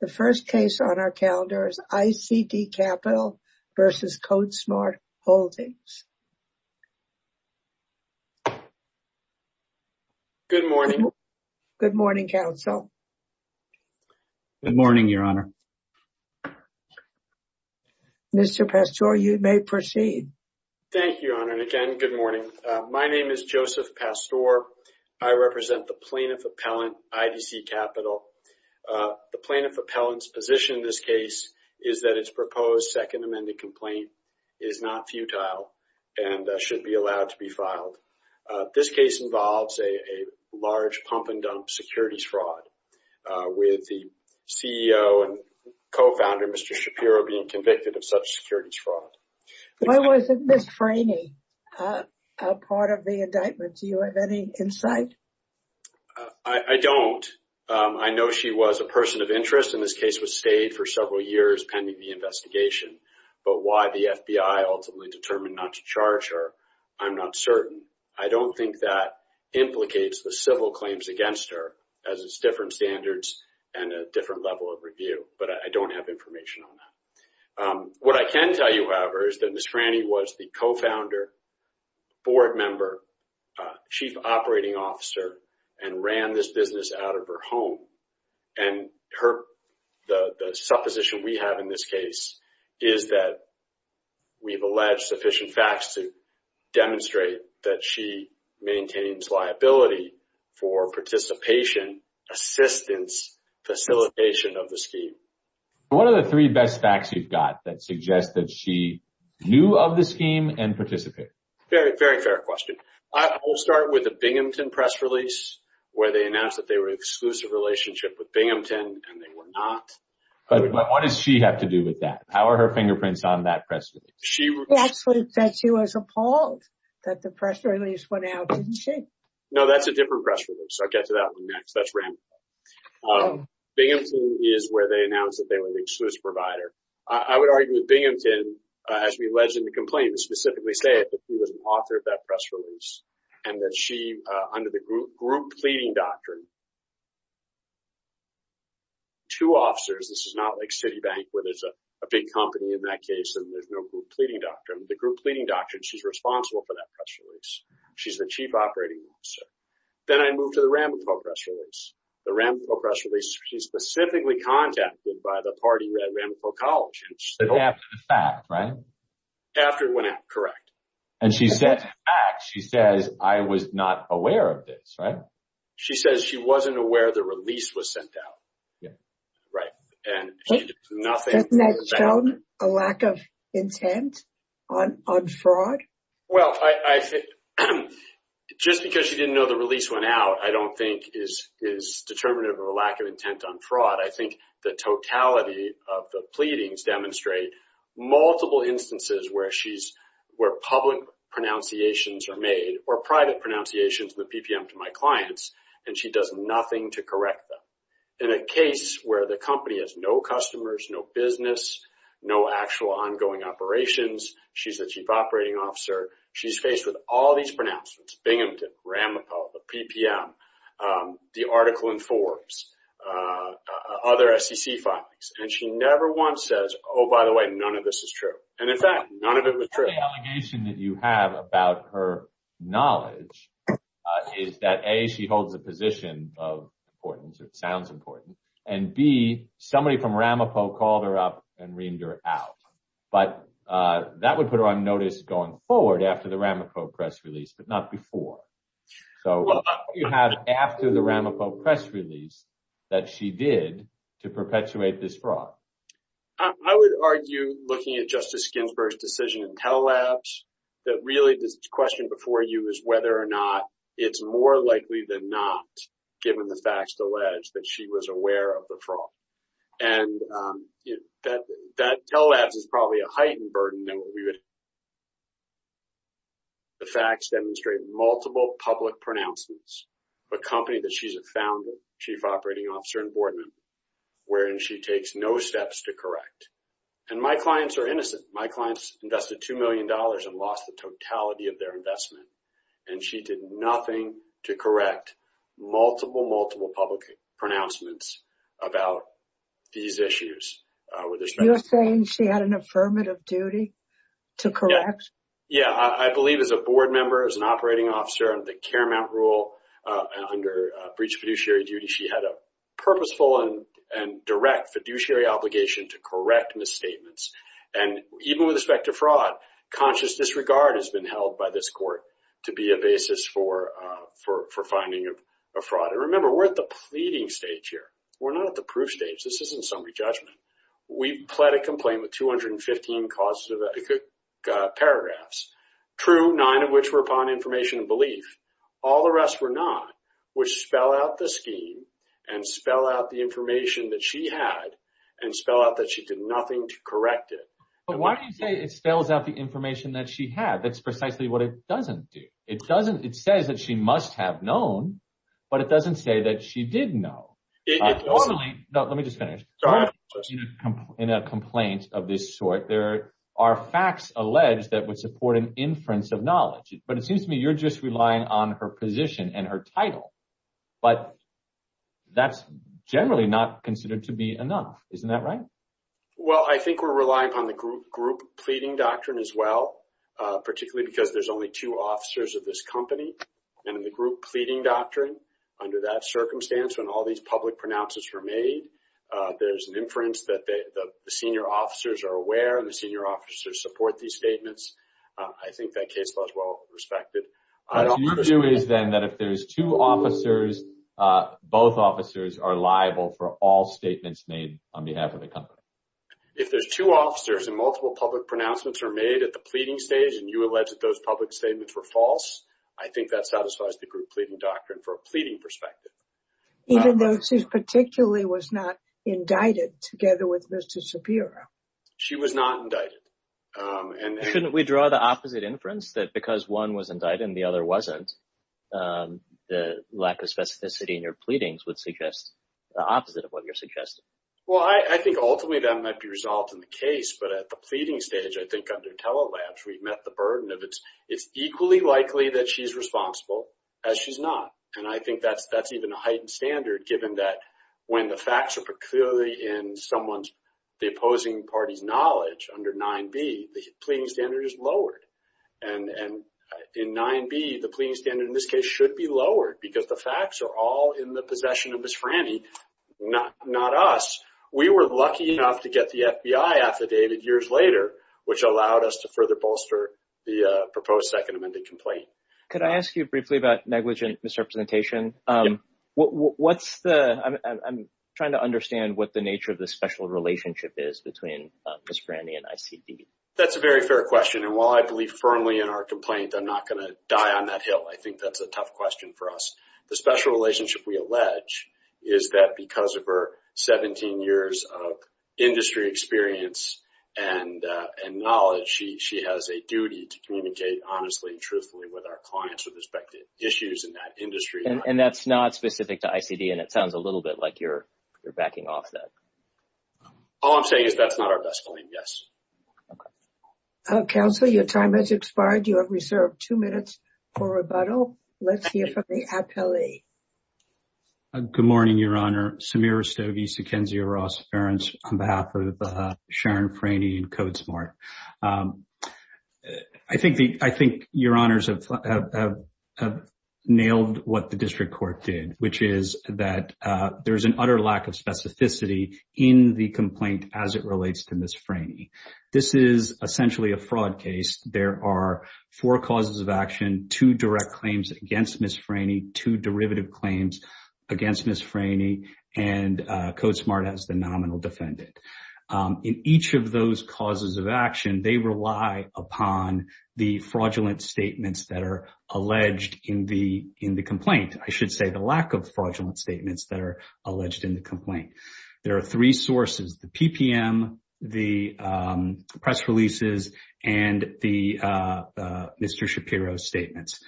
The first case on our calendar is ICD Capital v. Codesmart Holdings. Good morning. Good morning, counsel. Good morning, Your Honor. Mr. Pastore, you may proceed. Thank you, Your Honor. And again, good morning. My name is Joseph Pastore. I represent the plaintiff appellant's position in this case is that its proposed second amended complaint is not futile and should be allowed to be filed. This case involves a large pump and dump securities fraud with the CEO and co-founder, Mr. Shapiro, being convicted of such securities fraud. Why wasn't Ms. Franey a part of the indictment? Do you have any insight? I don't. I know she was a person of interest and this case was stayed for several years pending the investigation. But why the FBI ultimately determined not to charge her, I'm not certain. I don't think that implicates the civil claims against her as it's different standards and a different level of review. But I don't have information on that. What I can tell you, however, is that Ms. Franey was the co-founder, board member, chief operating officer, and ran this business out of her home. And the supposition we have in this case is that we've alleged sufficient facts to demonstrate that she maintains liability for participation, assistance, facilitation of the scheme. What are the three best facts you've got that suggest that she knew of the scheme and participated? Very, very fair question. I will start with the Binghamton press release where they announced that they were an exclusive relationship with Binghamton and they were not. But what does she have to do with that? How are her fingerprints on that press release? She actually said she was appalled that the press release went out, didn't she? No, that's a different press release. I'll get to that one next. That's random. Binghamton is where they announced that they were an exclusive provider. I would argue with he was an author of that press release and that she, under the group pleading doctrine, two officers, this is not like Citibank where there's a big company in that case and there's no group pleading doctrine. The group pleading doctrine, she's responsible for that press release. She's the chief operating officer. Then I moved to the Ramapo press release. The Ramapo press release, she's specifically contacted by the party at Ramapo College. After the fact, right? After it went out, correct. And she said, she says, I was not aware of this, right? She says she wasn't aware the release was sent out. Yeah. Right. And she did nothing. Doesn't that show a lack of intent on fraud? Well, just because she didn't know the release went out, I don't think is determinative of a lack of intent on fraud. I think the totality of the pleadings demonstrate multiple instances where public pronunciations are made or private pronunciations in the PPM to my clients, and she does nothing to correct them. In a case where the company has no customers, no business, no actual ongoing operations, she's the chief operating officer. She's faced with all these pronouncements, Binghamton, Ramapo, the PPM, the article in Forbes, other SEC files. And she never once says, oh, by the way, none of this is true. And in fact, none of it was true. The only allegation that you have about her knowledge is that A, she holds a position of importance, or it sounds important, and B, somebody from Ramapo called her up and reamed her out. But that would put her on notice going forward after the Ramapo press release, but not before. So what do you have after the Ramapo press release that she did to perpetuate this fraud? I would argue, looking at Justice Ginsburg's decision in Tell Labs, that really this question before you is whether or not it's more likely than not, given the facts alleged, that she was aware of the fraud. And that Tell Labs is probably a heightened burden than what we would have public pronouncements. A company that she's a founder, chief operating officer and board member, wherein she takes no steps to correct. And my clients are innocent. My clients invested $2 million and lost the totality of their investment. And she did nothing to correct multiple, multiple public pronouncements about these issues. You're saying she had an affirmative duty to correct? Yeah, I believe as a board member, as an operating officer under the Care Mount rule, under breach fiduciary duty, she had a purposeful and direct fiduciary obligation to correct misstatements. And even with respect to fraud, conscious disregard has been held by this court to be a basis for finding a fraud. And remember, we're at the pleading stage here. We're not at the proof stage. This isn't summary judgment. We pled a complaint with 215 paragraphs. True, nine of which were upon information and belief. All the rest were not, which spell out the scheme and spell out the information that she had and spell out that she did nothing to correct it. But why do you say it spells out the information that she had? That's precisely what it doesn't do. It doesn't. It says that she must have known, but it doesn't say that she did know. No, let me just finish. In a complaint of this sort, there are facts alleged that would support an inference of knowledge. But it seems to me you're just relying on her position and her title. But that's generally not considered to be enough. Isn't that right? Well, I think we're relying upon the group pleading doctrine as well, particularly because there's only two officers of this company. And in the group pleading doctrine, under that pronouncements were made, there's an inference that the senior officers are aware and the senior officers support these statements. I think that case was well respected. What you do is then that if there's two officers, both officers are liable for all statements made on behalf of the company. If there's two officers and multiple public pronouncements are made at the pleading stage and you allege that those public statements were false, I think that satisfies the group pleading doctrine for a pleading perspective. Even though she particularly was not indicted together with Mr. Shapiro. She was not indicted. Shouldn't we draw the opposite inference that because one was indicted and the other wasn't, the lack of specificity in your pleadings would suggest the opposite of what you're suggesting? Well, I think ultimately that might be resolved in the case. But at the pleading stage, I think under telelabs, we've met the burden of it's equally likely that she's responsible as she's not. And I think that's even a heightened standard given that when the facts are peculiarly in someone's, the opposing party's knowledge under 9B, the pleading standard is lowered. And in 9B, the pleading standard in this case should be lowered because the facts are all in the possession of Ms. Franny, not us. We were lucky enough to get the FBI affidavit years later, which allowed us to further bolster the proposed second amended complaint. Could I ask you briefly about negligent misrepresentation? I'm trying to understand what the nature of the special relationship is between Ms. Franny and ICB. That's a very fair question. And while I believe firmly in our complaint, I'm not going to die on that hill. I think that's a tough question for us. The special relationship we allege is that because of her 17 years of industry experience and knowledge, she has a duty to communicate honestly and truthfully with our clients with respect to issues in that industry. And that's not specific to ICB, and it sounds a little bit like you're backing off that. All I'm saying is that's not our best claim, yes. Counsel, your time has expired. You have reserved two minutes for rebuttal. Let's hear from the appellee. Good morning, Your Honor. Samir Rastogi, Sequenzio Ross-Ference on behalf of Sharon Franny and CodeSmart. I think Your Honors have nailed what the district court did, which is that there's an utter lack of specificity in the complaint as it relates to Ms. Franny. This is essentially a fraud case. There are four causes of action, two direct claims against Ms. Franny, two derivative claims against Ms. Franny, and CodeSmart has the nominal defendant. In each of those causes of action, they rely upon the fraudulent statements that are alleged in the complaint. I should say the lack of fraudulent statements that are alleged in the complaint. There are three sources, the PPM, the press releases, and the Mr. Shapiro's statements.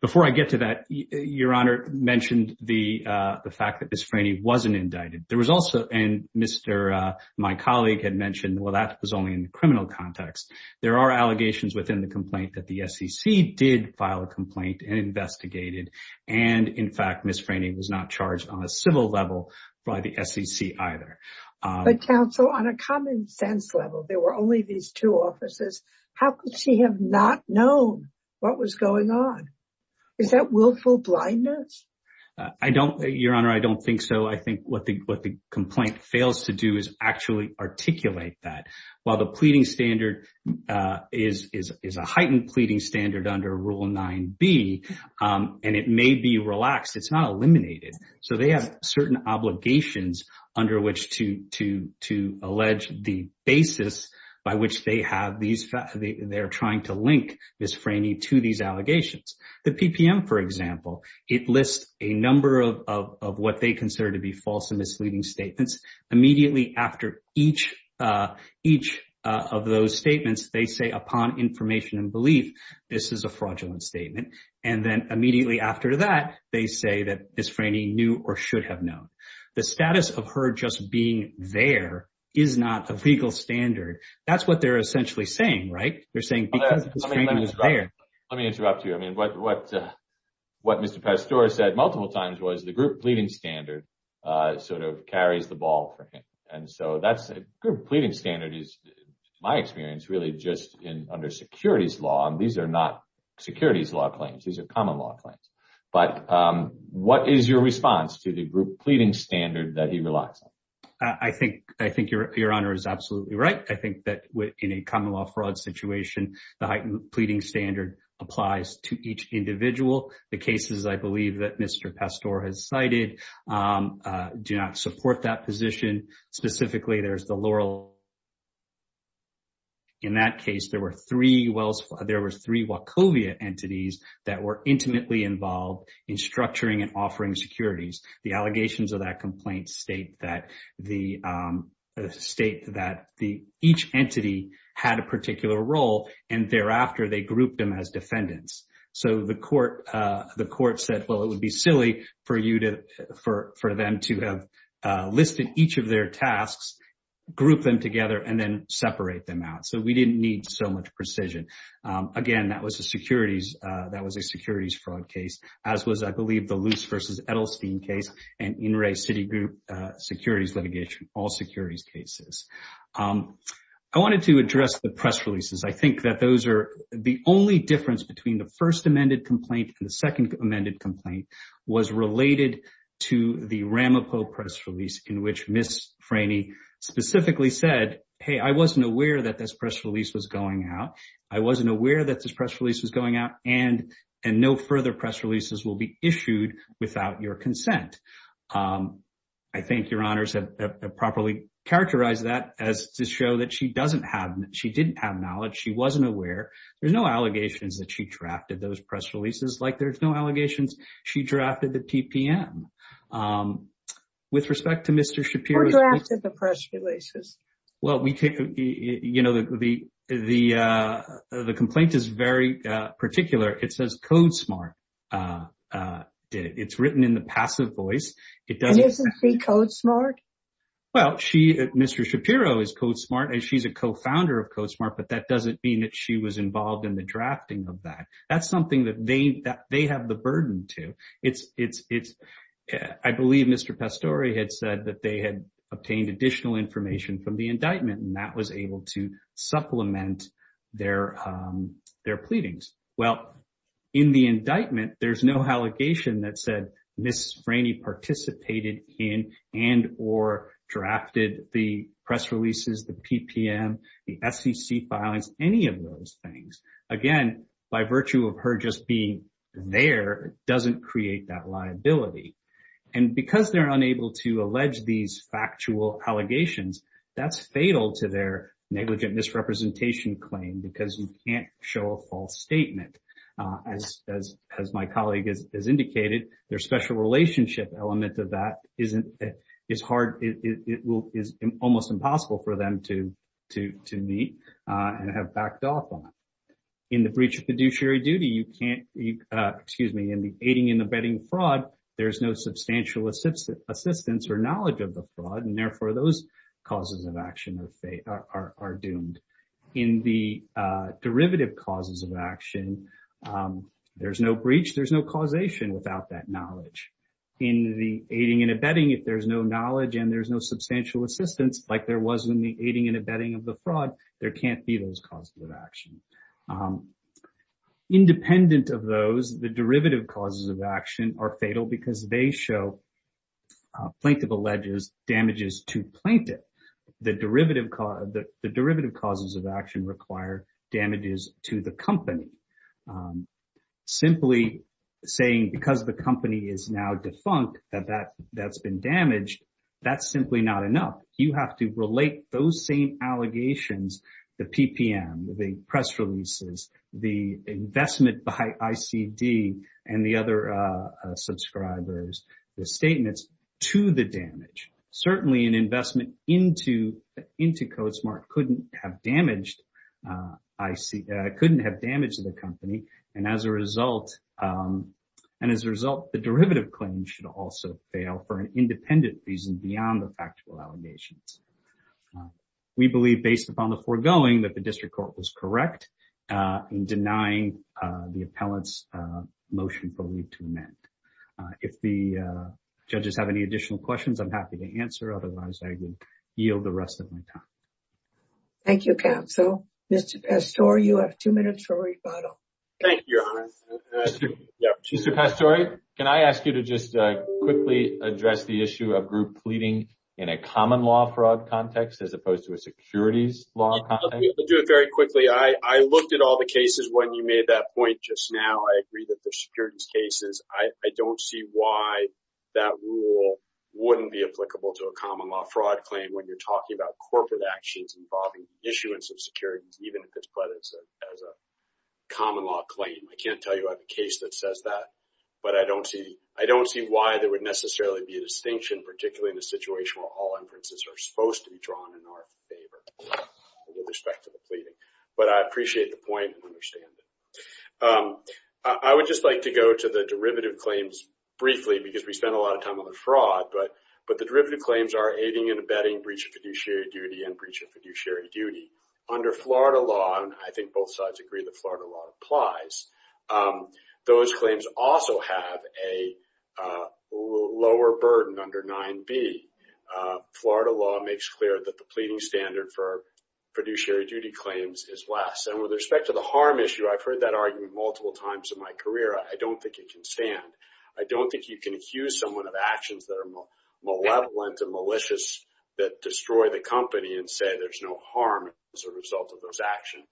Before I get to that, Your Honor mentioned the fact that Ms. Franny wasn't indicted. There was also, and my colleague had mentioned, well, that was only in the criminal context. There are allegations within the complaint that the SEC did file a complaint and investigated. In fact, Ms. Franny was not charged on a civil level by the SEC either. But counsel, on a common sense level, there were only these two officers. How could she have not known what was going on? Is that willful blindness? Your Honor, I don't think so. I think what the complaint fails to do is actually articulate that. While the pleading standard is a heightened pleading standard under Rule 9b, and it may be relaxed, it's not eliminated. So they have certain obligations under which to allege the basis by which they have these, they're trying to link Ms. Franny to these allegations. The PPM, for example, it lists a number of what they consider to be false and each of those statements, they say upon information and belief, this is a fraudulent statement. And then immediately after that, they say that Ms. Franny knew or should have known. The status of her just being there is not a legal standard. That's what they're essentially saying, right? They're saying because Ms. Franny was there. Let me interrupt you. I mean, what Mr. Pastore said multiple times was the group pleading standard sort of carries the ball for me. And so that's a group pleading standard is my experience really just in under securities law. These are not securities law claims. These are common law claims. But what is your response to the group pleading standard that he relies on? I think your Honor is absolutely right. I think that in a common law fraud situation, the heightened pleading standard applies to each specifically there's the Laurel. In that case, there were three Wachovia entities that were intimately involved in structuring and offering securities. The allegations of that complaint state that each entity had a particular role and thereafter, they grouped them as defendants. So the court said, well, it would be silly for them to have each of their tasks, group them together, and then separate them out. So we didn't need so much precision. Again, that was a securities fraud case, as was, I believe, the Luce v. Edelstein case and In Re City Group securities litigation, all securities cases. I wanted to address the press releases. I think that those are the only difference between the first amended complaint and the second amended complaint was related to the Ramapo press release in which Ms. Franey specifically said, hey, I wasn't aware that this press release was going out. I wasn't aware that this press release was going out and no further press releases will be issued without your consent. I think your Honors have properly characterized that as to show that she didn't have knowledge. She wasn't aware. There's no allegations that she drafted those or drafted the press releases. Well, the complaint is very particular. It says code smart. It's written in the passive voice. And isn't she code smart? Well, Mr. Shapiro is code smart and she's a co-founder of code smart, but that doesn't mean that she was involved in the drafting of that. That's something that they have the burden to. It's I believe Mr. Pastore had said that they had obtained additional information from the indictment and that was able to supplement their pleadings. Well, in the indictment, there's no allegation that said Ms. Franey participated in and or drafted the press releases, the PPM, the SEC files, any of those things. Again, by virtue of her just being there doesn't create that liability. And because they're unable to allege these factual allegations, that's fatal to their negligent misrepresentation claim because you can't show a false statement. As my colleague has indicated, their special relationship element of that is hard. It is almost impossible for them to meet and have backed off on. In the breach of fiduciary duty, you can't, excuse me, in the aiding and abetting fraud, there's no substantial assistance or knowledge of the fraud. And therefore, those causes of action are doomed. In the derivative causes of action, there's no breach, there's no causation without that knowledge. In the aiding and abetting, if there's no knowledge and there's no substantial assistance like there was in the aiding and abetting of the fraud, there can't be those causes of action. Independent of those, the derivative causes of action are fatal because they show plaintiff alleges damages to plaintiff. The derivative causes of action require damages to the company. Simply saying because the company is now defunct that that's been damaged, that's simply not enough. You have to relate those same allegations, the PPM, the press releases, the investment by ICD and the other subscribers, the statements to the damage. Certainly, an investment into CodeSmart couldn't have damaged the company. And as a result, the derivative claim should also fail for an independent reason beyond the factual allegations. We believe based upon the foregoing that the district court was correct in denying the appellant's motion for leave to amend. If the judges have any additional questions, I'm happy to answer. Otherwise, I would yield the rest of my time. Thank you, counsel. Mr. Pastore, you have two minutes for rebuttal. Thank you, your honor. Mr. Pastore, can I ask you to just quickly address the issue of group pleading in a common law fraud context as opposed to a securities law context? I'll do it very quickly. I looked at all the cases when you made that point just now. I agree that they're securities cases. I don't see why that rule wouldn't be applicable to a common law fraud claim when you're talking about corporate actions involving issuance of I can't tell you I have a case that says that. But I don't see why there would necessarily be a distinction, particularly in a situation where all inferences are supposed to be drawn in our favor with respect to the pleading. But I appreciate the point and understand it. I would just like to go to the derivative claims briefly because we spent a lot of time on the fraud. But the derivative claims are aiding and abetting breach of fiduciary duty and breach of those claims also have a lower burden under 9b. Florida law makes clear that the pleading standard for fiduciary duty claims is less. And with respect to the harm issue, I've heard that argument multiple times in my career. I don't think it can stand. I don't think you can accuse someone of actions that are malevolent and malicious that destroy the company and say there's no harm as a result of those actions.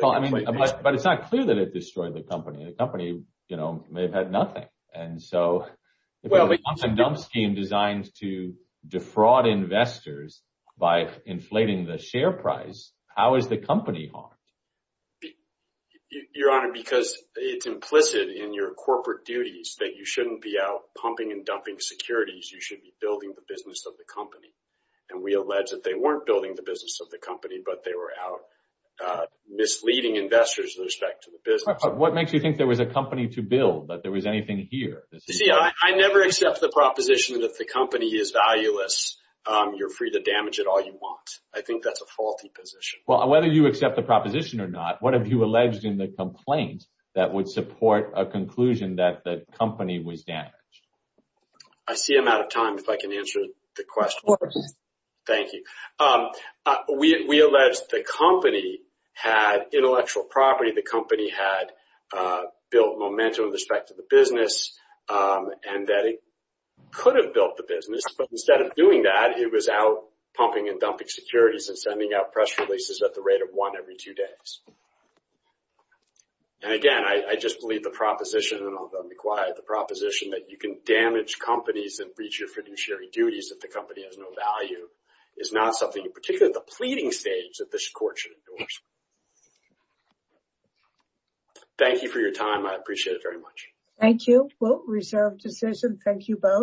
Well, I mean, but it's not clear that it destroyed the company. The company, you know, may have had nothing. And so, well, it's a dump scheme designed to defraud investors by inflating the share price. How is the company harmed? Your Honor, because it's implicit in your corporate duties that you shouldn't be out pumping and dumping securities. You should be building the business of the company. And we allege that they weren't building the business of the company, but they were out misleading investors with respect to the business. What makes you think there was a company to build, that there was anything here? You see, I never accept the proposition that the company is valueless. You're free to damage it all you want. I think that's a faulty position. Well, whether you accept the proposition or not, what have you alleged in the complaint that would support a conclusion that the company was damaged? I see I'm out of time. If I can answer the question. Thank you. We allege the company had intellectual property. The company had built momentum with respect to the business and that it could have built the business. But instead of doing that, it was out pumping and dumping securities and sending out press releases at the rate of one every two days. And again, I just believe the proposition, and I'll be quiet, the proposition that you can damage companies and breach your fiduciary duties if the company has no value is not something, particularly at the pleading stage, that this court should endorse. Thank you for your time. I appreciate it very much. Thank you. Reserved decision. Thank you both.